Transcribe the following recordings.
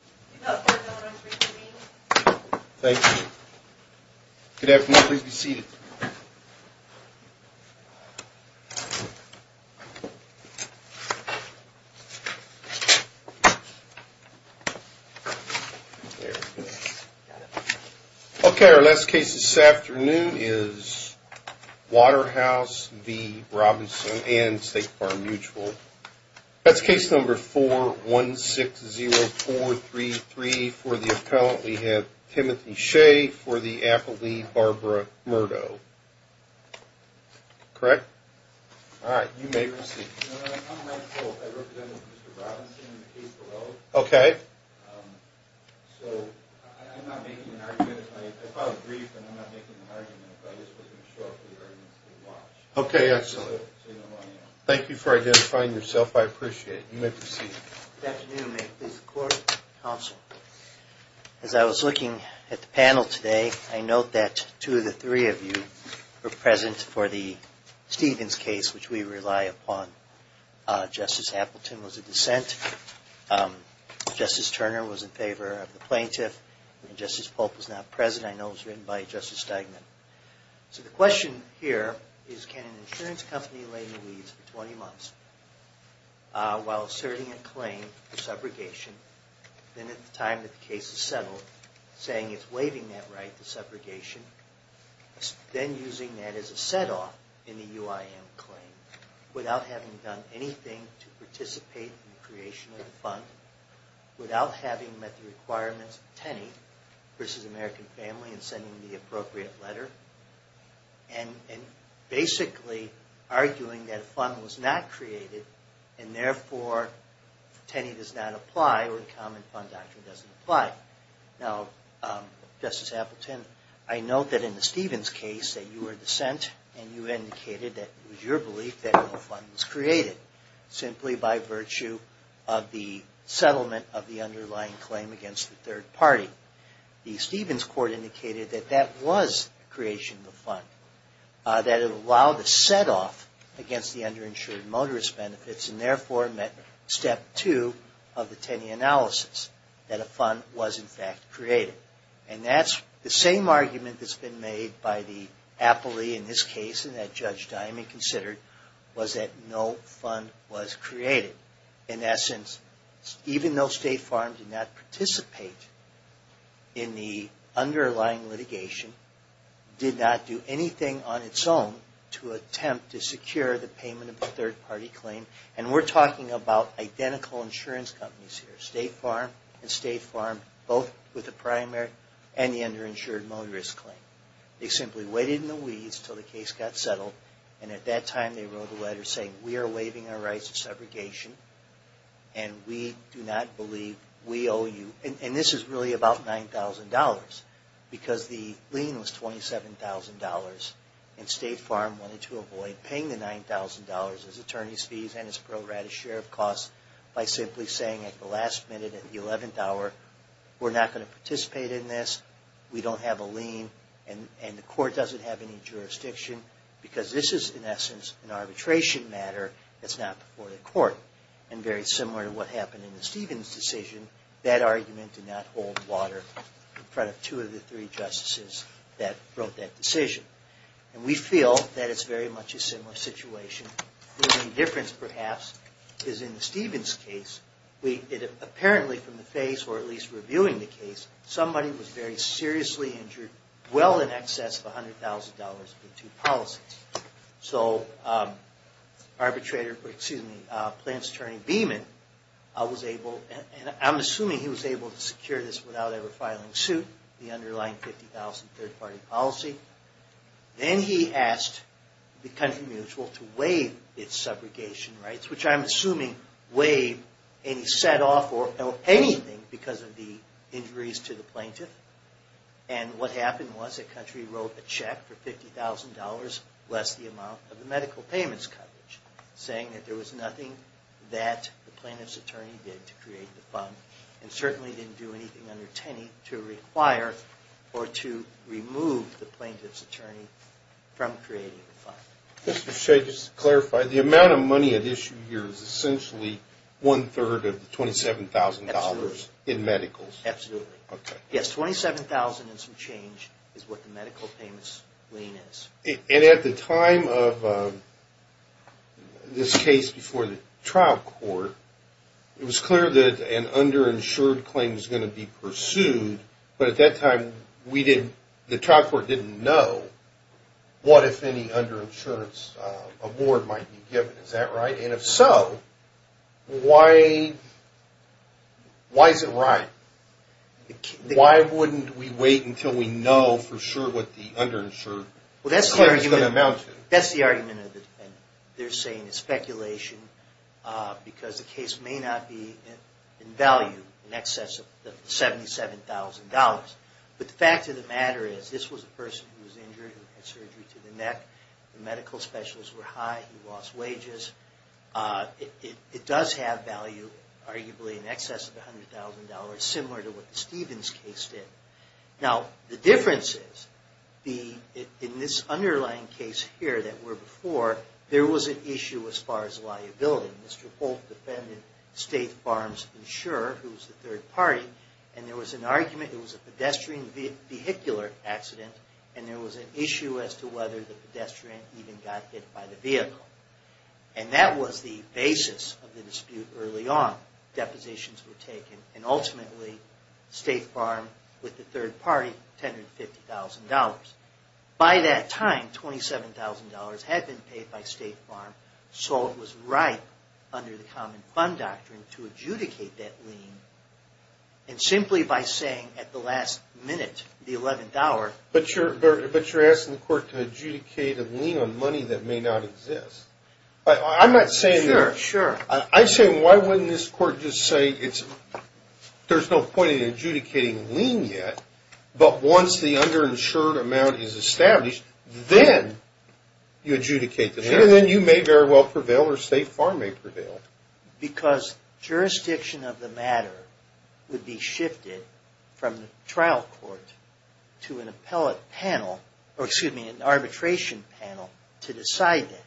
Thank you. Good afternoon. Please be seated. Okay, our last case this afternoon is Waterhouse v. Robinson and State Farm Mutual. That's case number 4-160-433 for the appellant. We have Timothy Shea for the appellee, Barbara Murdo. Correct? All right, you may proceed. No, I'm rightful. I represent Mr. Robinson in the case below. Okay. So I'm not making an argument. I filed a brief and I'm not making an argument. I just wasn't sure if the arguments would watch. Okay, excellent. So you know who I am. Thank you for identifying yourself. I appreciate it. You may proceed. Good afternoon. May it please the court and counsel. As I was looking at the panel today, I note that two of the three of you were present for the Stevens case, which we rely upon. Justice Appleton was a dissent. Justice Turner was in favor of the plaintiff. And Justice Polk was not present. I know it was written by Justice Steigman. So the question here is can an insurance company lay the weeds for 20 months while asserting a claim for subrogation, then at the time that the case is settled saying it's waiving that right to subrogation, then using that as a set-off in the UIM claim without having done anything to participate in the creation of the fund, without having met the requirements of Tenney v. American Family and sending the appropriate letter, and basically arguing that a fund was not created and therefore Tenney does not apply or the Common Fund Doctrine doesn't apply. Now, Justice Appleton, I note that in the Stevens case that you were dissent and you indicated that it was your belief that no fund was created simply by virtue of the settlement of the underlying claim against the third party. The Stevens court indicated that that was the creation of the fund, that it allowed a set-off against the underinsured motorist benefits and therefore met step two of the Tenney analysis, that a fund was in fact created. And that's the same argument that's been made by the appellee in this case and that Judge Diamond considered was that no fund was created. In essence, even though State Farm did not participate in the underlying litigation, did not do anything on its own to attempt to secure the payment of the third party claim, and we're talking about identical insurance companies here, State Farm and State Farm both with the primary and the underinsured motorist claim. They simply waited in the weeds until the case got settled, and at that time they wrote a letter saying, we are waiving our rights of segregation and we do not believe we owe you, and this is really about $9,000, because the lien was $27,000 and State Farm wanted to avoid paying the $9,000 as attorney's fees and as pro rata share of costs by simply saying at the last minute, at the 11th hour, we're not going to participate in this, we don't have a lien, and the court doesn't have any jurisdiction, because this is in essence an arbitration matter that's not before the court. And very similar to what happened in the Stevens decision, that argument did not hold water in front of two of the three justices that wrote that decision. And we feel that it's very much a similar situation. The only difference perhaps is in the Stevens case, apparently from the face, or at least reviewing the case, somebody was very seriously injured, well in excess of $100,000 for two policies. So Plaintiff's attorney Beeman was able, and I'm assuming he was able to secure this without ever filing suit, the underlying $50,000 third party policy. Then he asked the country mutual to waive its segregation rights, which I'm assuming waived and he set off for anything because of the injuries to the plaintiff. And what happened was the country wrote a check for $50,000 less the amount of the medical payments coverage, saying that there was nothing that the plaintiff's attorney did to create the fund, and certainly didn't do anything under Tenney to require or to remove the plaintiff's attorney from creating the fund. Mr. Shea, just to clarify, the amount of money at issue here is essentially one-third of the $27,000 in medicals? Absolutely. Yes, $27,000 and some change is what the medical payments lien is. And at the time of this case before the trial court, it was clear that an underinsured claim was going to be pursued, but at that time the trial court didn't know what, if any, underinsurance award might be given. Is that right? And if so, why is it right? Why wouldn't we wait until we know for sure what the underinsured claim is going to amount to? That's the argument, and they're saying it's speculation, because the case may not be in value in excess of the $77,000. But the fact of the matter is, this was a person who was injured and had surgery to the neck, the medical specialists were high, he lost wages. It does have value, arguably, in excess of $100,000, similar to what the Stevens case did. Now, the difference is, in this underlying case here that we're before, there was an issue as far as liability. Mr. Folt defended State Farms Insure, who was the third party, and there was an argument, it was a pedestrian vehicular accident, and there was an issue as to whether the pedestrian even got hit by the vehicle. And that was the basis of the dispute early on. Depositions were taken, and ultimately, State Farm, with the third party, tendered $50,000. By that time, $27,000 had been paid by State Farm, so it was right under the Common Fund Doctrine to adjudicate that lien, and simply by saying at the last minute, the $11. But you're asking the court to adjudicate a lien on money that may not exist. Sure, sure. I'm saying, why wouldn't this court just say, there's no point in adjudicating a lien yet, but once the underinsured amount is established, then you adjudicate the lien, and then you may very well prevail, or State Farm may prevail. Because jurisdiction of the matter would be shifted from the trial court to an arbitration panel to decide that.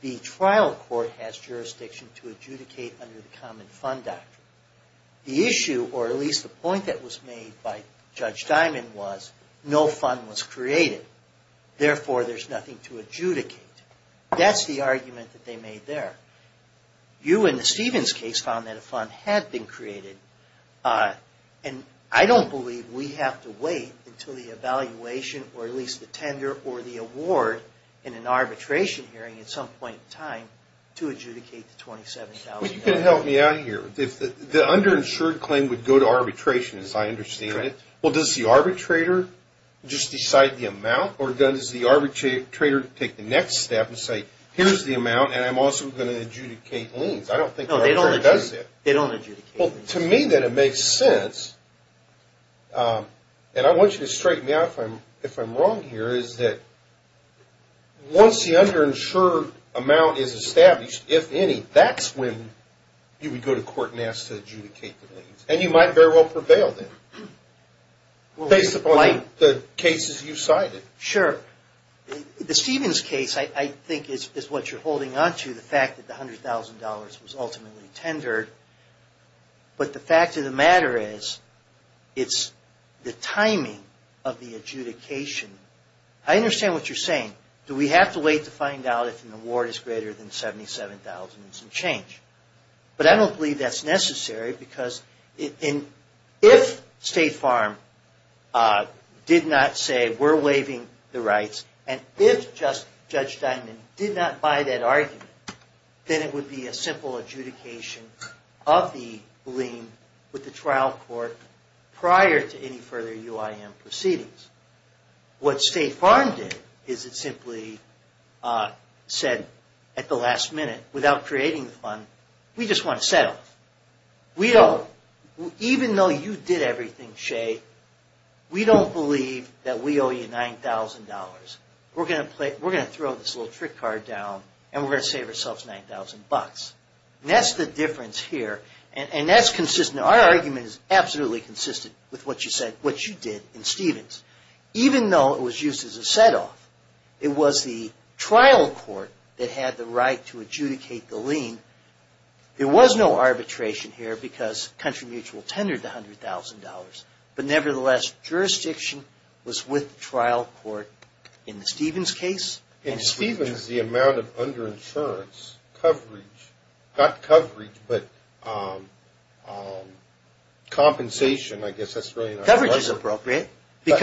The trial court has jurisdiction to adjudicate under the Common Fund Doctrine. The issue, or at least the point that was made by Judge Dimon was, no fund was created, therefore there's nothing to adjudicate. That's the argument that they made there. You in the Stevens case found that a fund had been created, and I don't believe we have to wait until the evaluation, or at least the tender, or the award in an arbitration hearing at some point in time to adjudicate the $27,000. Well, you can help me out here. The underinsured claim would go to arbitration, as I understand it. Correct. Well, does the arbitrator just decide the amount, or does the arbitrator take the next step and say, here's the amount, and I'm also going to adjudicate liens? I don't think the arbitrator does that. No, they don't adjudicate liens. Well, to me, that it makes sense, and I want you to straighten me out if I'm wrong here, is that once the underinsured amount is established, if any, that's when you would go to court and ask to adjudicate the liens, and you might very well prevail then, based upon the cases you cited. Sure. The Stevens case, I think, is what you're holding on to, the fact that the $100,000 was ultimately tendered, but the fact of the matter is, it's the timing of the adjudication. I understand what you're saying. Do we have to wait to find out if an award is greater than $77,000 and some change? But I don't believe that's necessary, because if State Farm did not say, we're waiving the rights, and if Judge Dimon did not buy that argument, then it would be a simple adjudication of the lien with the trial court prior to any further UIM proceedings. What State Farm did is it simply said at the last minute, without creating the fund, we just want to settle. We don't. Even though you did everything, Shay, we don't believe that we owe you $9,000. We're going to throw this little trick card down, and we're going to save ourselves $9,000. That's the difference here, and that's consistent. Our argument is absolutely consistent with what you said, what you did in Stevens. Even though it was used as a set-off, it was the trial court that had the right to adjudicate the lien. There was no arbitration here because Country Mutual tendered the $100,000, but nevertheless, jurisdiction was with the trial court in the Stevens case. In Stevens, the amount of under-insurance coverage, not coverage, but compensation, I guess that's really not appropriate. Coverage is appropriate. No,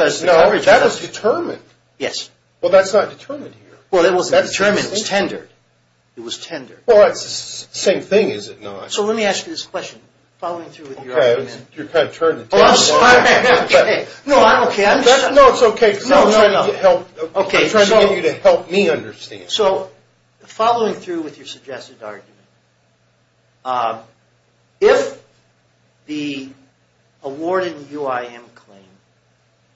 that was determined. Yes. Well, that's not determined here. Well, it wasn't determined. It was tendered. It was tendered. Well, it's the same thing, is it not? So let me ask you this question, following through with your argument. You're kind of turning the table. I'm sorry. No, I'm okay. No, it's okay. I'm trying to get you to help me understand. So following through with your suggested argument, if the award in the UIM claim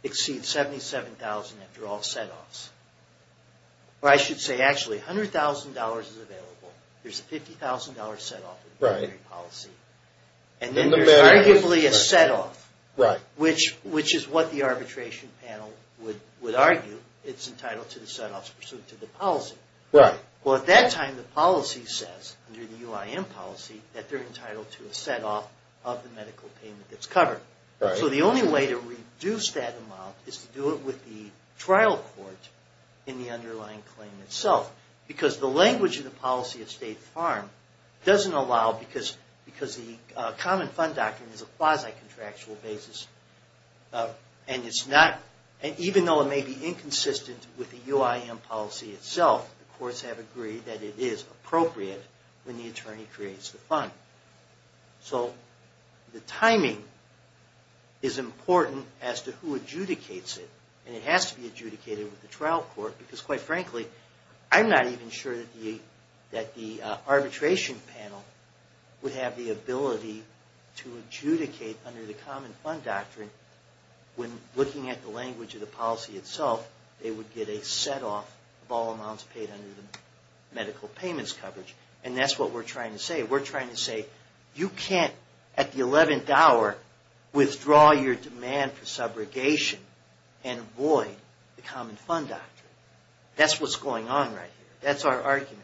exceeds $77,000 after all set-offs, or I should say, actually, $100,000 is available. There's a $50,000 set-off in the monetary policy, and then there's arguably a set-off, which is what the arbitration panel would argue. It's entitled to the set-offs pursuant to the policy. Well, at that time, the policy says, under the UIM policy, that they're entitled to a set-off of the medical payment that's covered. So the only way to reduce that amount is to do it with the trial court in the underlying claim itself, because the language in the policy of State Farm doesn't allow, because the Common Fund Doctrine is a quasi-contractual basis, and even though it may be inconsistent with the UIM policy itself, the courts have agreed that it is appropriate when the attorney creates the fund. So the timing is important as to who adjudicates it, and it has to be adjudicated with the trial court, because quite frankly, I'm not even sure that the arbitration panel would have the ability to adjudicate under the Common Fund Doctrine when, looking at the language of the policy itself, they would get a set-off of all amounts paid under the medical payments coverage. And that's what we're trying to say. We're trying to say, you can't, at the 11th hour, withdraw your demand for subrogation and avoid the Common Fund Doctrine. That's what's going on right here. That's our argument.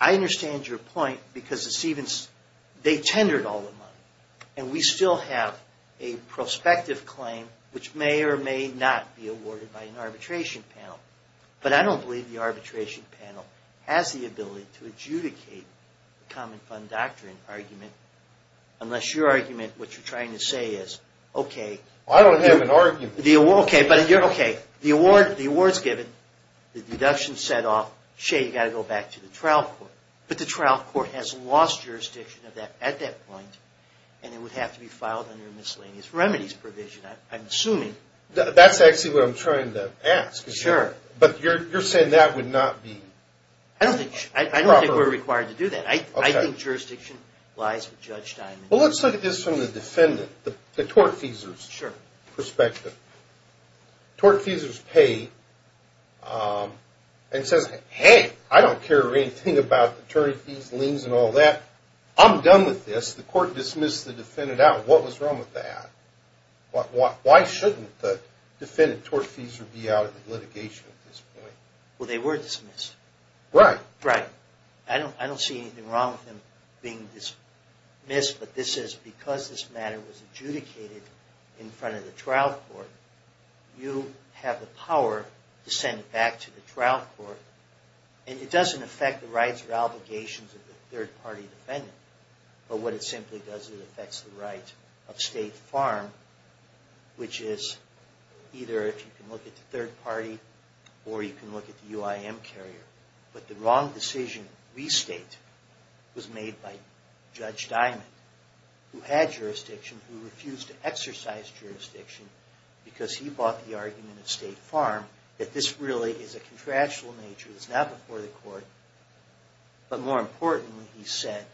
I understand your point, because they tendered all the money, and we still have a prospective claim, which may or may not be awarded by an arbitration panel. But I don't believe the arbitration panel has the ability to adjudicate the Common Fund Doctrine argument, unless your argument, what you're trying to say is, okay, the award's given, the deduction's set off, you've got to go back to the trial court. But the trial court has lost jurisdiction at that point, and it would have to be filed under a miscellaneous remedies provision, I'm assuming. That's actually what I'm trying to ask. Sure. But you're saying that would not be proper? I don't think we're required to do that. I think jurisdiction lies with Judge Diamond. Well, let's look at this from the defendant, the tortfeasor's perspective. Tortfeasor's paid and says, hey, I don't care anything about attorney fees, liens, and all that. I'm done with this. The court dismissed the defendant out. What was wrong with that? Why shouldn't the defendant, Tortfeasor, be out at the litigation at this point? Well, they were dismissed. Right. Right. I don't see anything wrong with him being dismissed, but because this matter was adjudicated in front of the trial court, you have the power to send it back to the trial court. And it doesn't affect the rights or obligations of the third-party defendant. But what it simply does is it affects the right of State Farm, which is either, if you can look at the third party, or you can look at the UIM carrier. But the wrong decision to restate was made by Judge Diamond, who had jurisdiction, who refused to exercise jurisdiction, because he bought the argument of State Farm that this really is a contractual nature. It's not before the court. But more importantly, he said,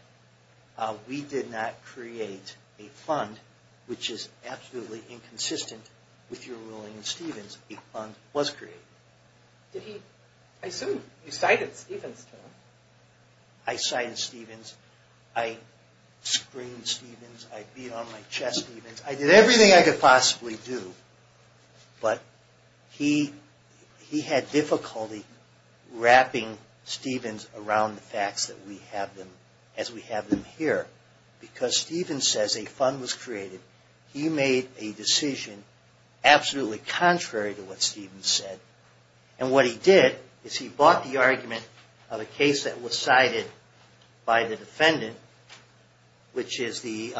we did not create a fund, which is absolutely inconsistent with your ruling in Stevens. A fund was created. I assume you cited Stevens, too. I cited Stevens. I screamed Stevens. I beat on my chest Stevens. I did everything I could possibly do, but he had difficulty wrapping Stevens around the facts as we have them here. Because Stevens says a fund was created. He made a decision absolutely contrary to what Stevens said. And what he did is he bought the argument of a case that was cited by the defendant, which is the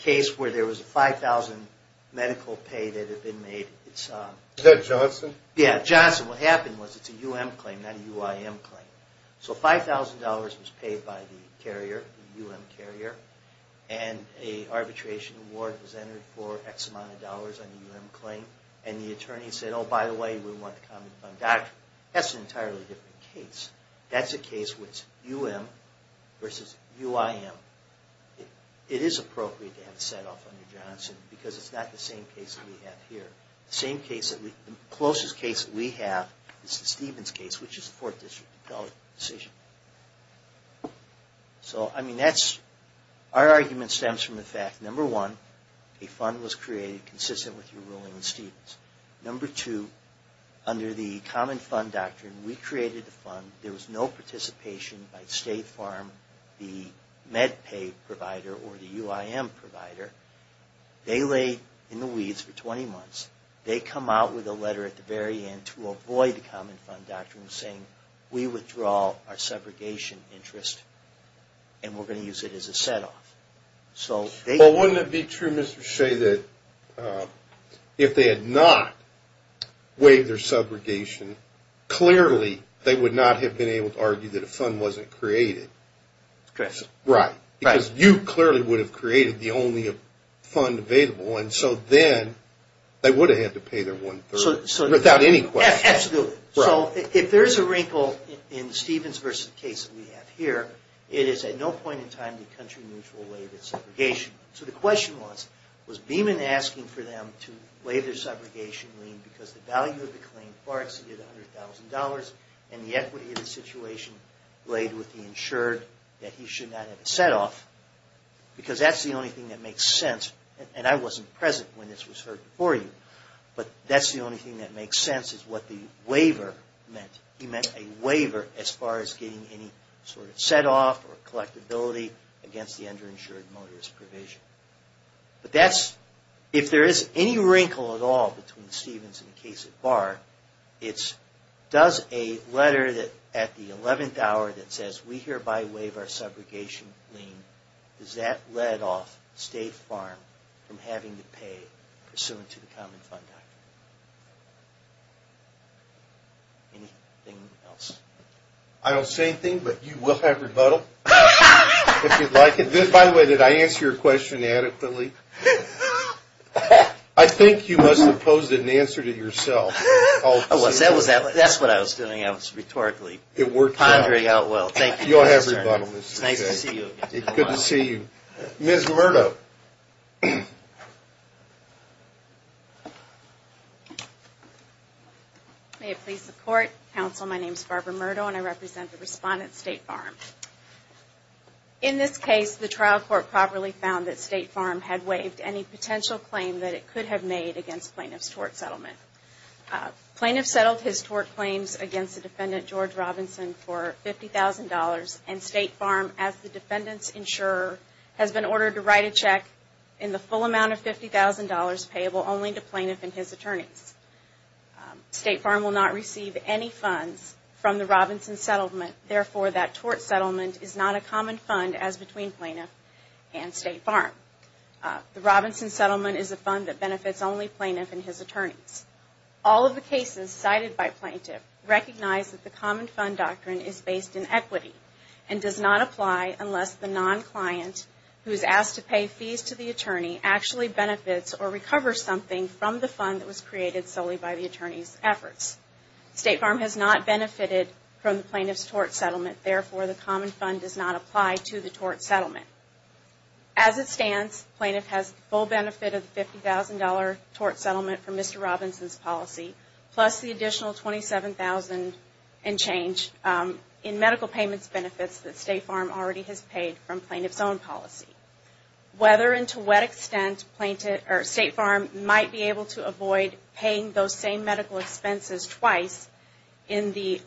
case where there was a $5,000 medical pay that had been made. Is that Johnson? Yeah, Johnson. What happened was it's a UM claim, not a UIM claim. So $5,000 was paid by the carrier, the UM carrier, and an arbitration award was entered for X amount of dollars on the UM claim. And the attorney said, oh, by the way, we want the common fund doctrine. That's an entirely different case. That's a case where it's UM versus UIM. It is appropriate to have a set-off under Johnson because it's not the same case that we have here. The closest case that we have is the Stevens case, which is a 4th District appellate decision. So, I mean, our argument stems from the fact, number one, a fund was created consistent with your ruling on Stevens. Number two, under the common fund doctrine, we created the fund. There was no participation by State Farm, the med pay provider, or the UIM provider. They lay in the weeds for 20 months. They come out with a letter at the very end to avoid the common fund doctrine saying, we withdraw our segregation interest and we're going to use it as a set-off. Well, wouldn't it be true, Mr. Shea, that if they had not waived their segregation, clearly they would not have been able to argue that a fund wasn't created. Right. Because you clearly would have created the only fund available. And so then they would have had to pay their one-third without any question. Absolutely. So if there's a wrinkle in the Stevens versus case that we have here, it is at no point in time did country mutual waive its segregation. So the question was, was Beeman asking for them to waive their segregation lien because the value of the claim far exceeded $100,000 and the equity of the situation laid with the insured that he should not have a set-off? Because that's the only thing that makes sense. And I wasn't present when this was heard before you. But that's the only thing that makes sense is what the waiver meant. He meant a waiver as far as getting any sort of set-off or collectability against the underinsured motorist provision. But if there is any wrinkle at all between the Stevens and the case at bar, it does a letter at the 11th hour that says, we hereby waive our segregation lien because that led off State Farm from having to pay pursuant to the Common Fund Act. Anything else? I don't say anything, but you will have rebuttal if you'd like it. By the way, did I answer your question adequately? I think you must have posed an answer to yourself. That's what I was doing. I was rhetorically pondering how it will. You'll have rebuttal. It's nice to see you again. Good to see you. Ms. Murdo. May it please the Court. Counsel, my name is Barbara Murdo, and I represent the respondent, State Farm. In this case, the trial court properly found that State Farm had waived any potential claim that it could have made against plaintiff's tort settlement. Plaintiff settled his tort claims against the defendant, George Robinson, for $50,000, and State Farm, as the defendant's insurer, has been ordered to write a check in the full amount of $50,000 payable only to plaintiff and his attorneys. State Farm will not receive any funds from the Robinson settlement. Therefore, that tort settlement is not a common fund as between plaintiff and State Farm. The Robinson settlement is a fund that benefits only plaintiff and his attorneys. All of the cases cited by plaintiff recognize that the common fund doctrine is based in equity and does not apply unless the non-client who is asked to pay fees to the attorney actually benefits or recovers something from the fund that was created solely by the attorney's efforts. State Farm has not benefited from the plaintiff's tort settlement. Therefore, the common fund does not apply to the tort settlement. As it stands, plaintiff has full benefit of the $50,000 tort settlement from Mr. Robinson's policy, plus the additional $27,000 and change in medical payments benefits that State Farm already has paid from plaintiff's own policy. Whether and to what extent State Farm might be able to avoid paying those same medical expenses twice in the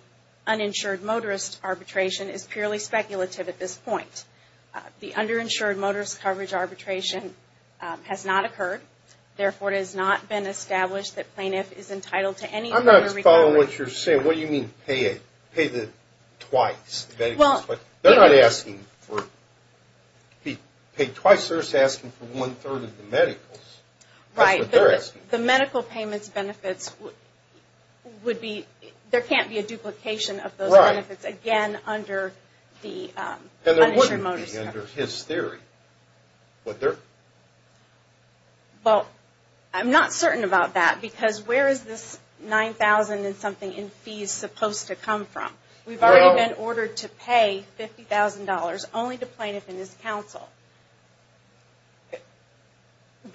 uninsured motorist arbitration is purely speculative at this point. The underinsured motorist coverage arbitration has not occurred. Therefore, it has not been established that plaintiff is entitled to any further recovery. I'm not following what you're saying. What do you mean pay it? Pay the twice? They're not asking for paid twice. They're asking for one-third of the medicals. Right. The medical payments benefits would be – there can't be a duplication of those benefits again under the uninsured motorist coverage. Under his theory. Well, I'm not certain about that because where is this $9,000 and something in fees supposed to come from? We've already been ordered to pay $50,000 only to plaintiff and his counsel.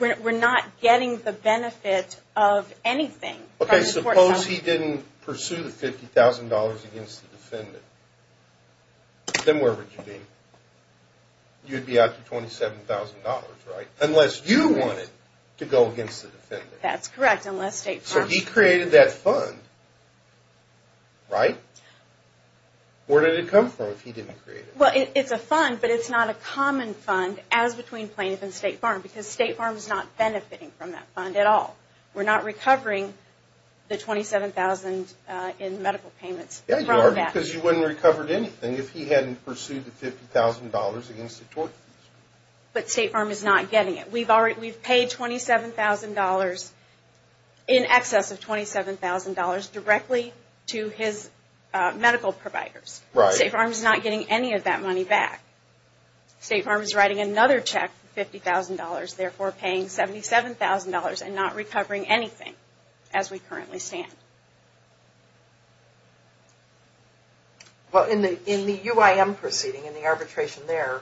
We're not getting the benefit of anything. Okay, suppose he didn't pursue the $50,000 against the defendant. Then where would you be? You'd be out to $27,000, right? Unless you wanted to go against the defendant. That's correct, unless State Farm. So he created that fund, right? Where did it come from if he didn't create it? Well, it's a fund, but it's not a common fund as between plaintiff and State Farm because State Farm is not benefiting from that fund at all. We're not recovering the $27,000 in medical payments from that. Yeah, you are because you wouldn't have recovered anything if he hadn't pursued the $50,000 against the tort. But State Farm is not getting it. We've paid $27,000 in excess of $27,000 directly to his medical providers. Right. State Farm is not getting any of that money back. State Farm is writing another check for $50,000, therefore paying $77,000 and not recovering anything as we currently stand. Well, in the UIM proceeding, in the arbitration there,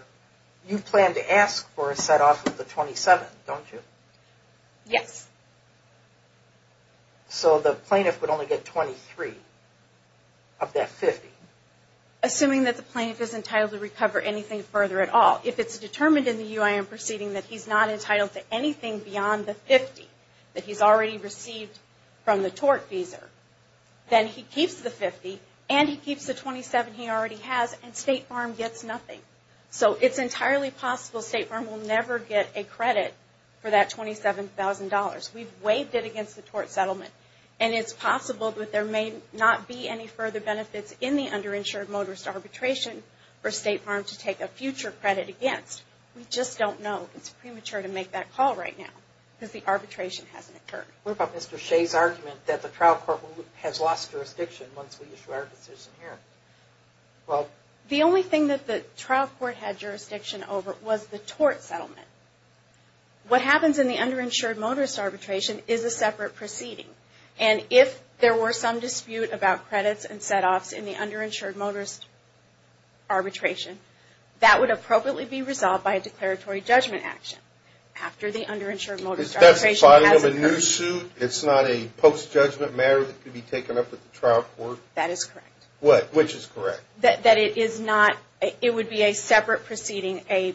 you plan to ask for a set-off of the $27,000, don't you? Yes. So the plaintiff would only get $23,000 of that $50,000? Assuming that the plaintiff is entitled to recover anything further at all. If it's determined in the UIM proceeding that he's not entitled to anything beyond the $50,000 that he's already received from the tort fees, then he keeps the $50,000 and he keeps the $27,000 he already has and State Farm gets nothing. So it's entirely possible State Farm will never get a credit for that $27,000. We've waived it against the tort settlement. And it's possible that there may not be any further benefits in the underinsured motorist arbitration for State Farm to take a future credit against. We just don't know. It's premature to make that call right now because the arbitration hasn't occurred. What about Mr. Shea's argument that the trial court has lost jurisdiction once we issue our decision here? Well, the only thing that the trial court had jurisdiction over was the tort settlement. What happens in the underinsured motorist arbitration is a separate proceeding. And if there were some dispute about credits and setoffs in the underinsured motorist arbitration, that would appropriately be resolved by a declaratory judgment action. After the underinsured motorist arbitration has occurred. Is that a part of a new suit? It's not a post-judgment matter that could be taken up with the trial court? That is correct. Which is correct? That it is not – it would be a separate proceeding, a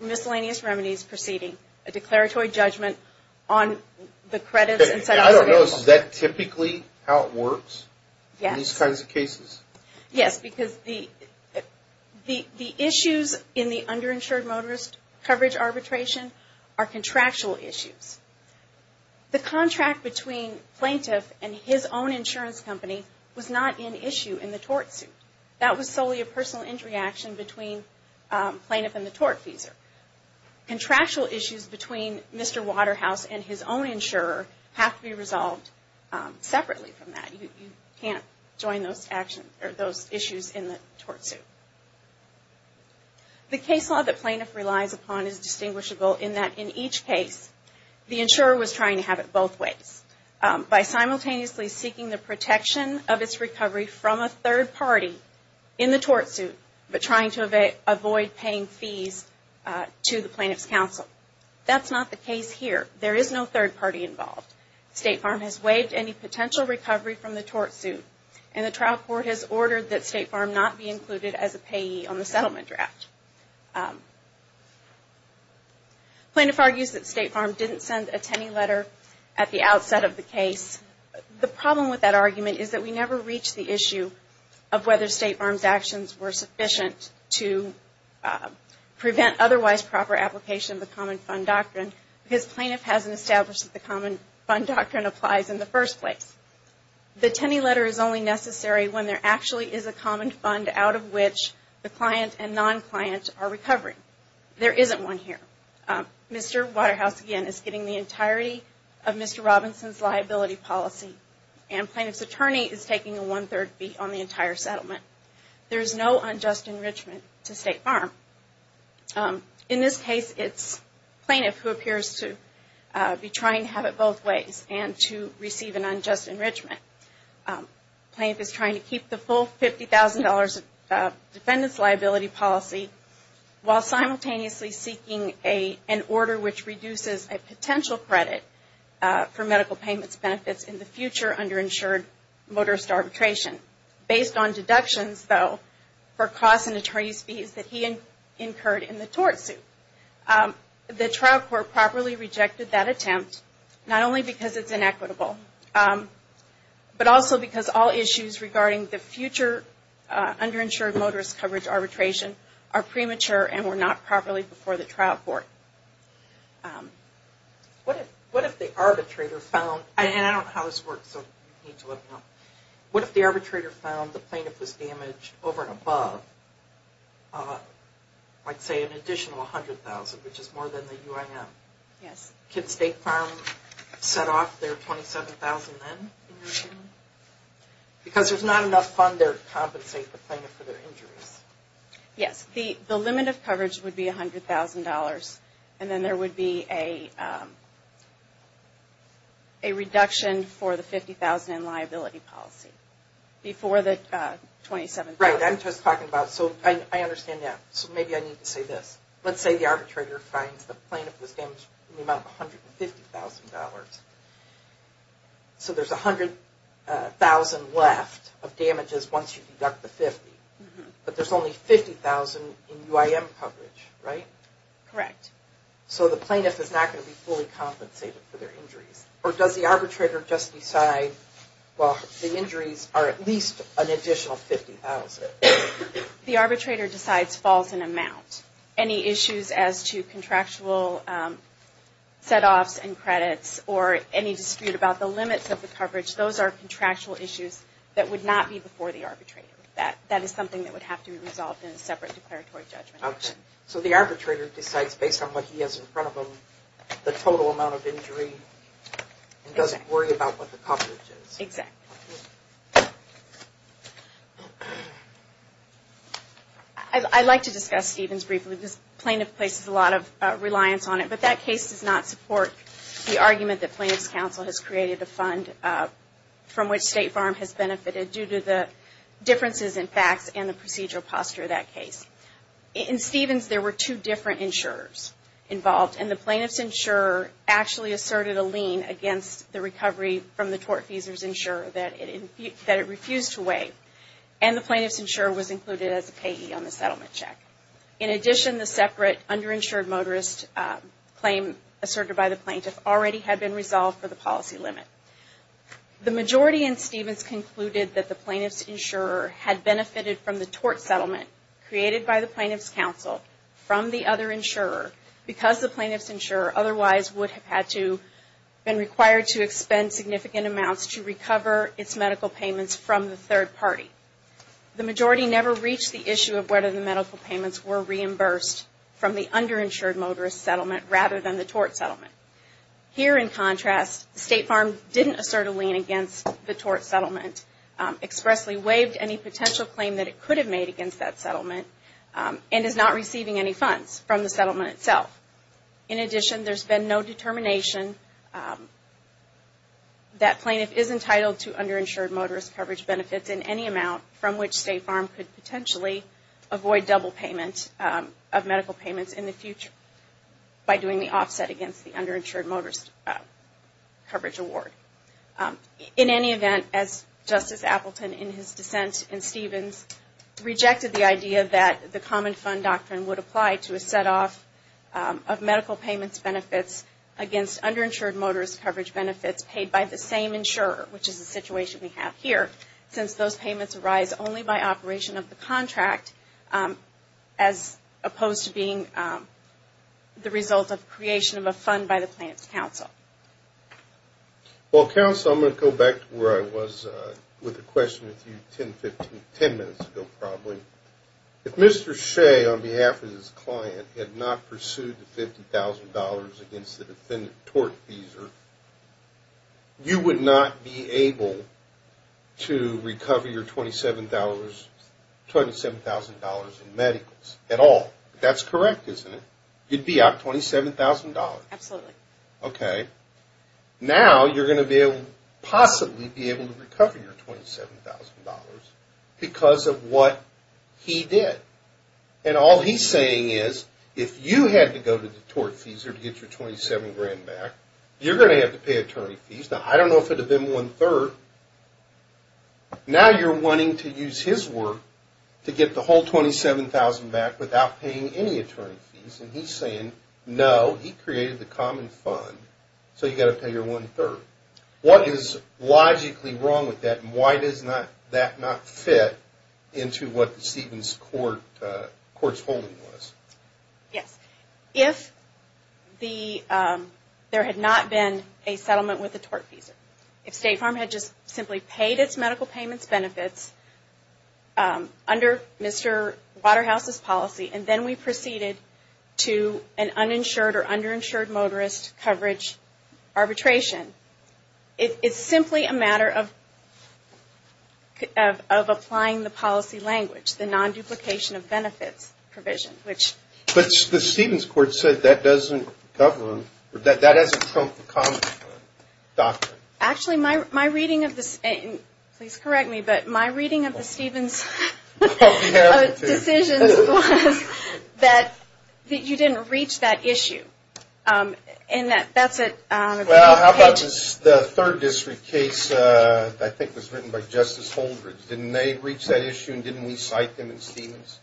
miscellaneous remedies proceeding, a declaratory judgment on the credits and setoffs. I don't know. Is that typically how it works? Yes. In these kinds of cases? Yes. Because the issues in the underinsured motorist coverage arbitration are contractual issues. The contract between plaintiff and his own insurance company was not an issue in the tort suit. That was solely a personal injury action between plaintiff and the tort feeser. Contractual issues between Mr. Waterhouse and his own insurer have to be resolved separately from that. You can't join those issues in the tort suit. The case law that plaintiff relies upon is distinguishable in that in each case, the insurer was trying to have it both ways. By simultaneously seeking the protection of its recovery from a third party in the tort suit, but trying to avoid paying fees to the plaintiff's counsel. That's not the case here. There is no third party involved. State Farm has waived any potential recovery from the tort suit, and the trial court has ordered that State Farm not be included as a payee on the settlement draft. Plaintiff argues that State Farm didn't send a Tenney letter at the outset of the case. The problem with that argument is that we never reach the issue of whether State Farm's actions were sufficient to prevent otherwise proper application of the common fund doctrine, because plaintiff hasn't established that the common fund doctrine applies in the first place. The Tenney letter is only necessary when there actually is a common fund out of which the client and non-client are recovering. There isn't one here. Mr. Waterhouse, again, is getting the entirety of Mr. Robinson's liability policy, and plaintiff's attorney is taking a one-third fee on the entire settlement. There is no unjust enrichment to State Farm. In this case, it's plaintiff who appears to be trying to have it both ways and to receive an unjust enrichment. Plaintiff is trying to keep the full $50,000 of defendant's liability policy while simultaneously seeking an order which reduces a potential credit for medical payments benefits in the future underinsured motorist arbitration. Based on deductions, though, for costs and attorney's fees that he incurred in the tort suit, the trial court properly rejected that attempt, not only because it's inequitable, but also because all issues regarding the future underinsured motorist coverage arbitration are premature and were not properly before the trial court. What if the arbitrator found, and I don't know how this works, so you need to look it up, what if the arbitrator found the plaintiff was damaged over and above, like say an additional $100,000, which is more than the UIM? Yes. Can State Farm set off their $27,000 then? Because there's not enough fund there to compensate the plaintiff for their injuries. Yes. The limit of coverage would be $100,000. And then there would be a reduction for the $50,000 in liability policy before the $27,000. Right. I'm just talking about, so I understand that. So maybe I need to say this. Let's say the arbitrator finds the plaintiff was damaged in the amount of $150,000. So there's $100,000 left of damages once you deduct the $50,000. But there's only $50,000 in UIM coverage, right? Correct. So the plaintiff is not going to be fully compensated for their injuries. Or does the arbitrator just decide, well, the injuries are at least an additional $50,000? The arbitrator decides falls in amount. Any issues as to contractual set-offs and credits or any dispute about the limits of the coverage, those are contractual issues that would not be before the arbitrator. That is something that would have to be resolved in a separate declaratory judgment. Okay. So the arbitrator decides based on what he has in front of him the total amount of injury and doesn't worry about what the coverage is. Exactly. I'd like to discuss Stevens briefly. This plaintiff places a lot of reliance on it, but that case does not support the argument that Plaintiff's Counsel has created a fund from which State Farm has benefited due to the differences in facts and the procedural posture of that case. In Stevens, there were two different insurers involved, and the plaintiff's insurer actually asserted a lien against the recovery from the tortfeasor's insurer that it refused to weigh. And the plaintiff's insurer was included as a payee on the settlement check. In addition, the separate underinsured motorist claim asserted by the plaintiff already had been resolved for the policy limit. The majority in Stevens concluded that the plaintiff's insurer had benefited from the tort settlement created by the plaintiff's counsel from the other insurer because the plaintiff's insurer otherwise would have had to been required to expend significant amounts to recover its medical payments from the third party. The majority never reached the issue of whether the medical payments were reimbursed from the underinsured motorist settlement rather than the tort settlement. Here, in contrast, State Farm didn't assert a lien against the tort settlement, expressly waived any potential claim that it could have made against that settlement, and is not receiving any funds from the settlement itself. In addition, there's been no determination that plaintiff is entitled to underinsured motorist coverage benefits in any amount from which State Farm could potentially avoid double payment of medical payments in the future by doing the offset against the underinsured motorist coverage award. In any event, as Justice Appleton, in his dissent in Stevens, rejected the idea that the common fund doctrine would apply to a set off of medical payments benefits against underinsured motorist coverage benefits paid by the same insurer, which is the situation we have here, since those payments arise only by operation of the contract as opposed to being the result of creation of a fund by the plaintiff's counsel. Well, counsel, I'm going to go back to where I was with the question with you 10 minutes ago, probably. If Mr. Shea, on behalf of his client, had not pursued the $50,000 against the defendant tort fees, you would not be able to recover your $27,000 in medicals at all. That's correct, isn't it? You'd be out $27,000. Absolutely. Okay. Now, you're going to possibly be able to recover your $27,000 because of what he did. And all he's saying is, if you had to go to the tort fees to get your $27,000 back, you're going to have to pay attorney fees. Now, I don't know if it would have been one-third. Now, you're wanting to use his work to get the whole $27,000 back without paying any attorney fees. And he's saying, no, he created the common fund, so you've got to pay your one-third. What is logically wrong with that, and why does that not fit into what Stephen's court's holding was? Yes. If there had not been a settlement with the tort fees, if State Farm had just simply paid its medical payments benefits under Mr. Waterhouse's policy, and then we proceeded to an uninsured or underinsured motorist coverage arbitration, it's simply a matter of applying the policy language, the non-duplication of benefits provision. But the Stephen's court said that doesn't govern, that doesn't trump the common fund doctrine. Actually, my reading of this, and please correct me, but my reading of the Stephen's decisions was that you didn't reach that issue. And that's it. Well, how about the third district case that I think was written by Justice Holdridge? Didn't they reach that issue, and didn't we cite them in Stephen's?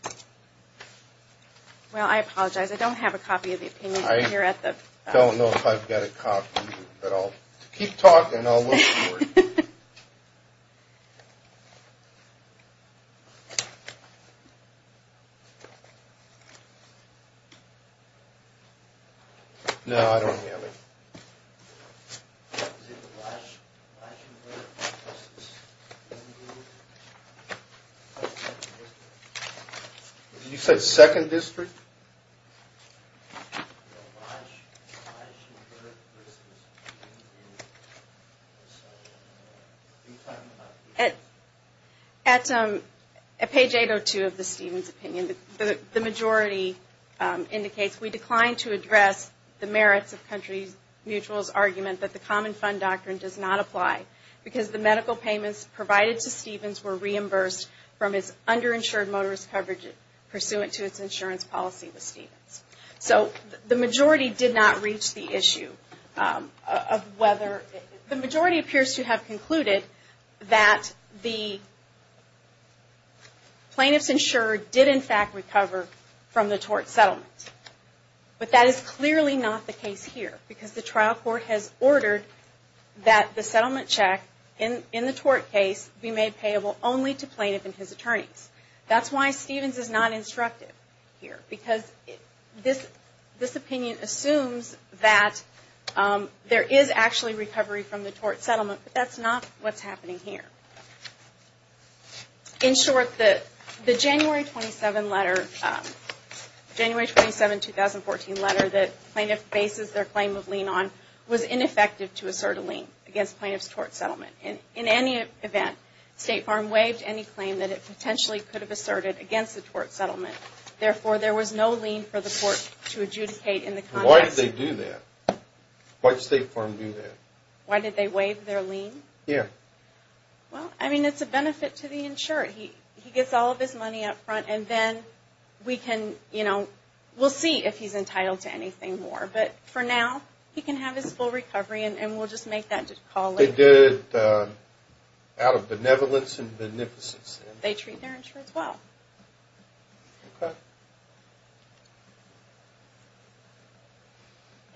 Well, I apologize. I don't have a copy of the opinion here at the… I don't know if I've got a copy, but I'll keep talking and I'll look for it. No, I don't have it. You said second district? I should have heard it. At page 802 of the Stephen's opinion, the majority indicates, we declined to address the merits of Country Mutual's argument that the common fund doctrine does not apply because the medical payments provided to Stephen's were reimbursed from its underinsured motorist coverage So, the majority did not reach the issue of whether… The majority appears to have concluded that the plaintiffs insured did, in fact, recover from the tort settlement. But that is clearly not the case here because the trial court has ordered that the settlement check in the tort case be made payable only to plaintiff and his attorneys. That's why Stephen's is not instructed here. Because this opinion assumes that there is actually recovery from the tort settlement, but that's not what's happening here. In short, the January 27, 2014 letter that plaintiff bases their claim of lien on was ineffective to assert a lien against plaintiff's tort settlement. In any event, State Farm waived any claim that it potentially could have asserted against the tort settlement. Therefore, there was no lien for the court to adjudicate in the context… Why did they do that? Why did State Farm do that? Why did they waive their lien? Yeah. Well, I mean, it's a benefit to the insured. He gets all of his money up front and then we can, you know, we'll see if he's entitled to anything more. But for now, he can have his full recovery and we'll just make that call later. They did it out of benevolence and beneficence. They treat their insured well.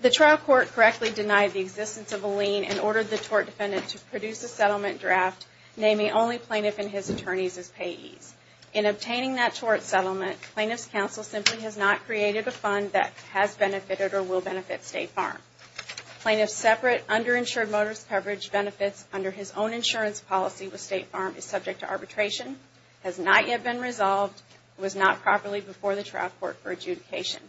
The trial court correctly denied the existence of a lien and ordered the tort defendant to produce a settlement draft naming only plaintiff and his attorneys as payees. In obtaining that tort settlement, plaintiff's counsel simply has not created a fund that has benefited or will benefit State Farm. Plaintiff's separate underinsured motorist coverage benefits under his own insurance policy with State Farm is subject to arbitration, has not yet been resolved, was not properly before the trial court for adjudication.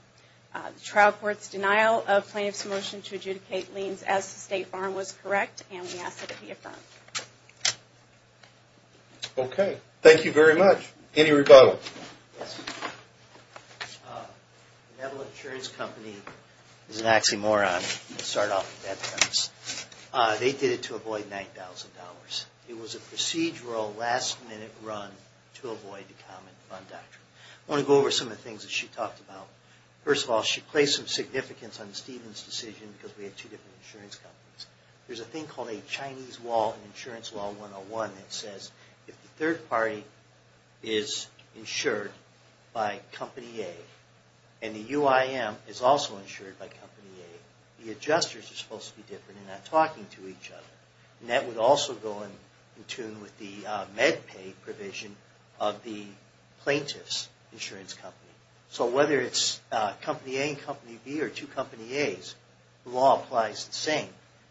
The trial court's denial of plaintiff's motion to adjudicate liens as to State Farm was correct and we ask that it be affirmed. Okay. Thank you very much. Any rebuttal? Yes. Benevolent Insurance Company is an oxymoron. Let's start off with that premise. They did it to avoid $9,000. It was a procedural last-minute run to avoid the Common Fund Doctrine. I want to go over some of the things that she talked about. First of all, she placed some significance on Stephen's decision because we had two different insurance companies. There's a thing called a Chinese wall in Insurance Law 101 that says if the third party is insured by Company A and the UIM is also insured by Company A, the adjusters are supposed to be different and not talking to each other. And that would also go in tune with the MedPay provision of the plaintiff's insurance company. So whether it's Company A and Company B or two Company As, the law applies the same.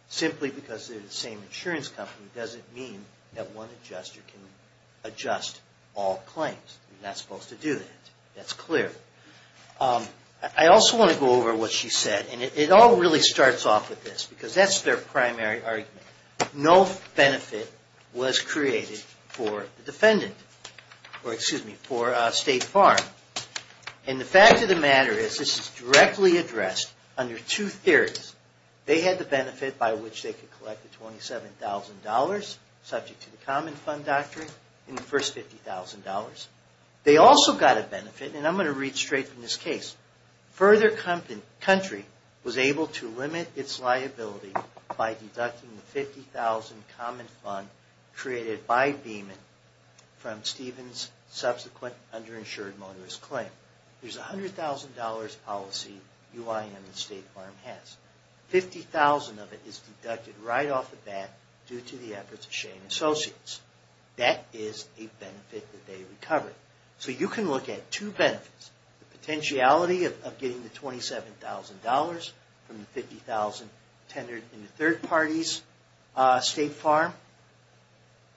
Simply because they're the same insurance company doesn't mean that one adjuster can adjust all claims. You're not supposed to do that. That's clear. I also want to go over what she said, and it all really starts off with this because that's their primary argument. No benefit was created for the defendant, or excuse me, for State Farm. And the fact of the matter is this is directly addressed under two theories. They had the benefit by which they could collect the $27,000 subject to the Common Fund Doctrine in the first $50,000. They also got a benefit, and I'm going to read straight from this case. Further country was able to limit its liability by deducting the $50,000 Common Fund created by Beeman from Stephen's subsequent underinsured motorist claim. There's a $100,000 policy UIN and State Farm has. $50,000 of it is deducted right off the bat due to the efforts of Shane Associates. That is a benefit that they recovered. So you can look at two benefits, the potentiality of getting the $27,000 from the $50,000 tendered in the third party's State Farm,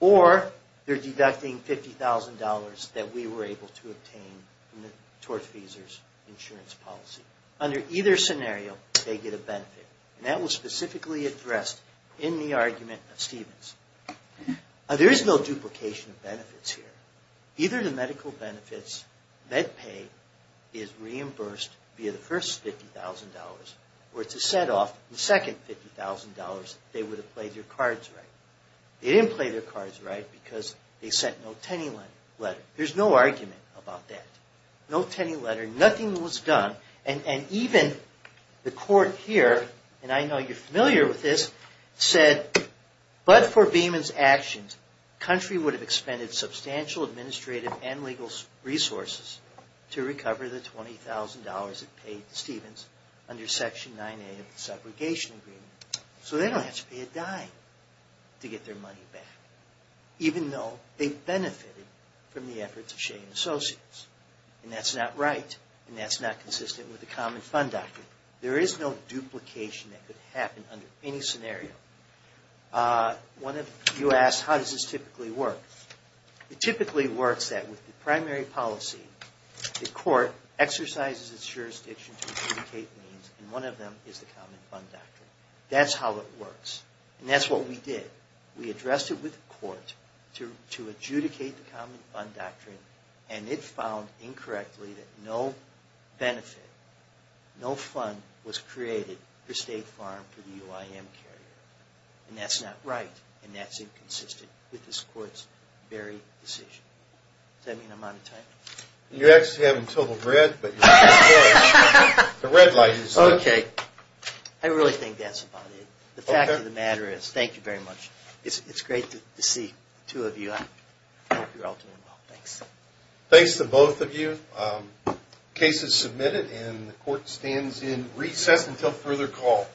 or they're deducting $50,000 that we were able to obtain from the tortfeasor's insurance policy. Under either scenario, they get a benefit. And that was specifically addressed in the argument of Stephen's. Now, there is no duplication of benefits here. Either the medical benefits, med pay, is reimbursed via the first $50,000 or it's a set off in the second $50,000 if they would have played their cards right. They didn't play their cards right because they sent no tenny letter. There's no argument about that. No tenny letter. Nothing was done. And even the court here, and I know you're familiar with this, said, but for Beeman's actions, the country would have expended substantial administrative and legal resources to recover the $20,000 it paid to Stephen's under Section 9A of the Segregation Agreement. So they don't have to pay a dime to get their money back, even though they benefited from the efforts of Che and Associates. And that's not right. And that's not consistent with the Common Fund Doctrine. There is no duplication that could happen under any scenario. One of you asked, how does this typically work? It typically works that with the primary policy, the court exercises its jurisdiction to adjudicate means, and one of them is the Common Fund Doctrine. That's how it works. And that's what we did. We addressed it with the court to adjudicate the Common Fund Doctrine, and it found incorrectly that no benefit, no fund, was created for State Farm for the UIM carrier. And that's not right. And that's inconsistent with this court's very decision. Does that mean I'm out of time? You're actually having total dread, but the red light is on. Okay. I really think that's about it. The fact of the matter is, thank you very much. It's great to see the two of you. I hope you're all doing well. Thanks. Thanks to both of you. The case is submitted, and the court stands in recess until further call.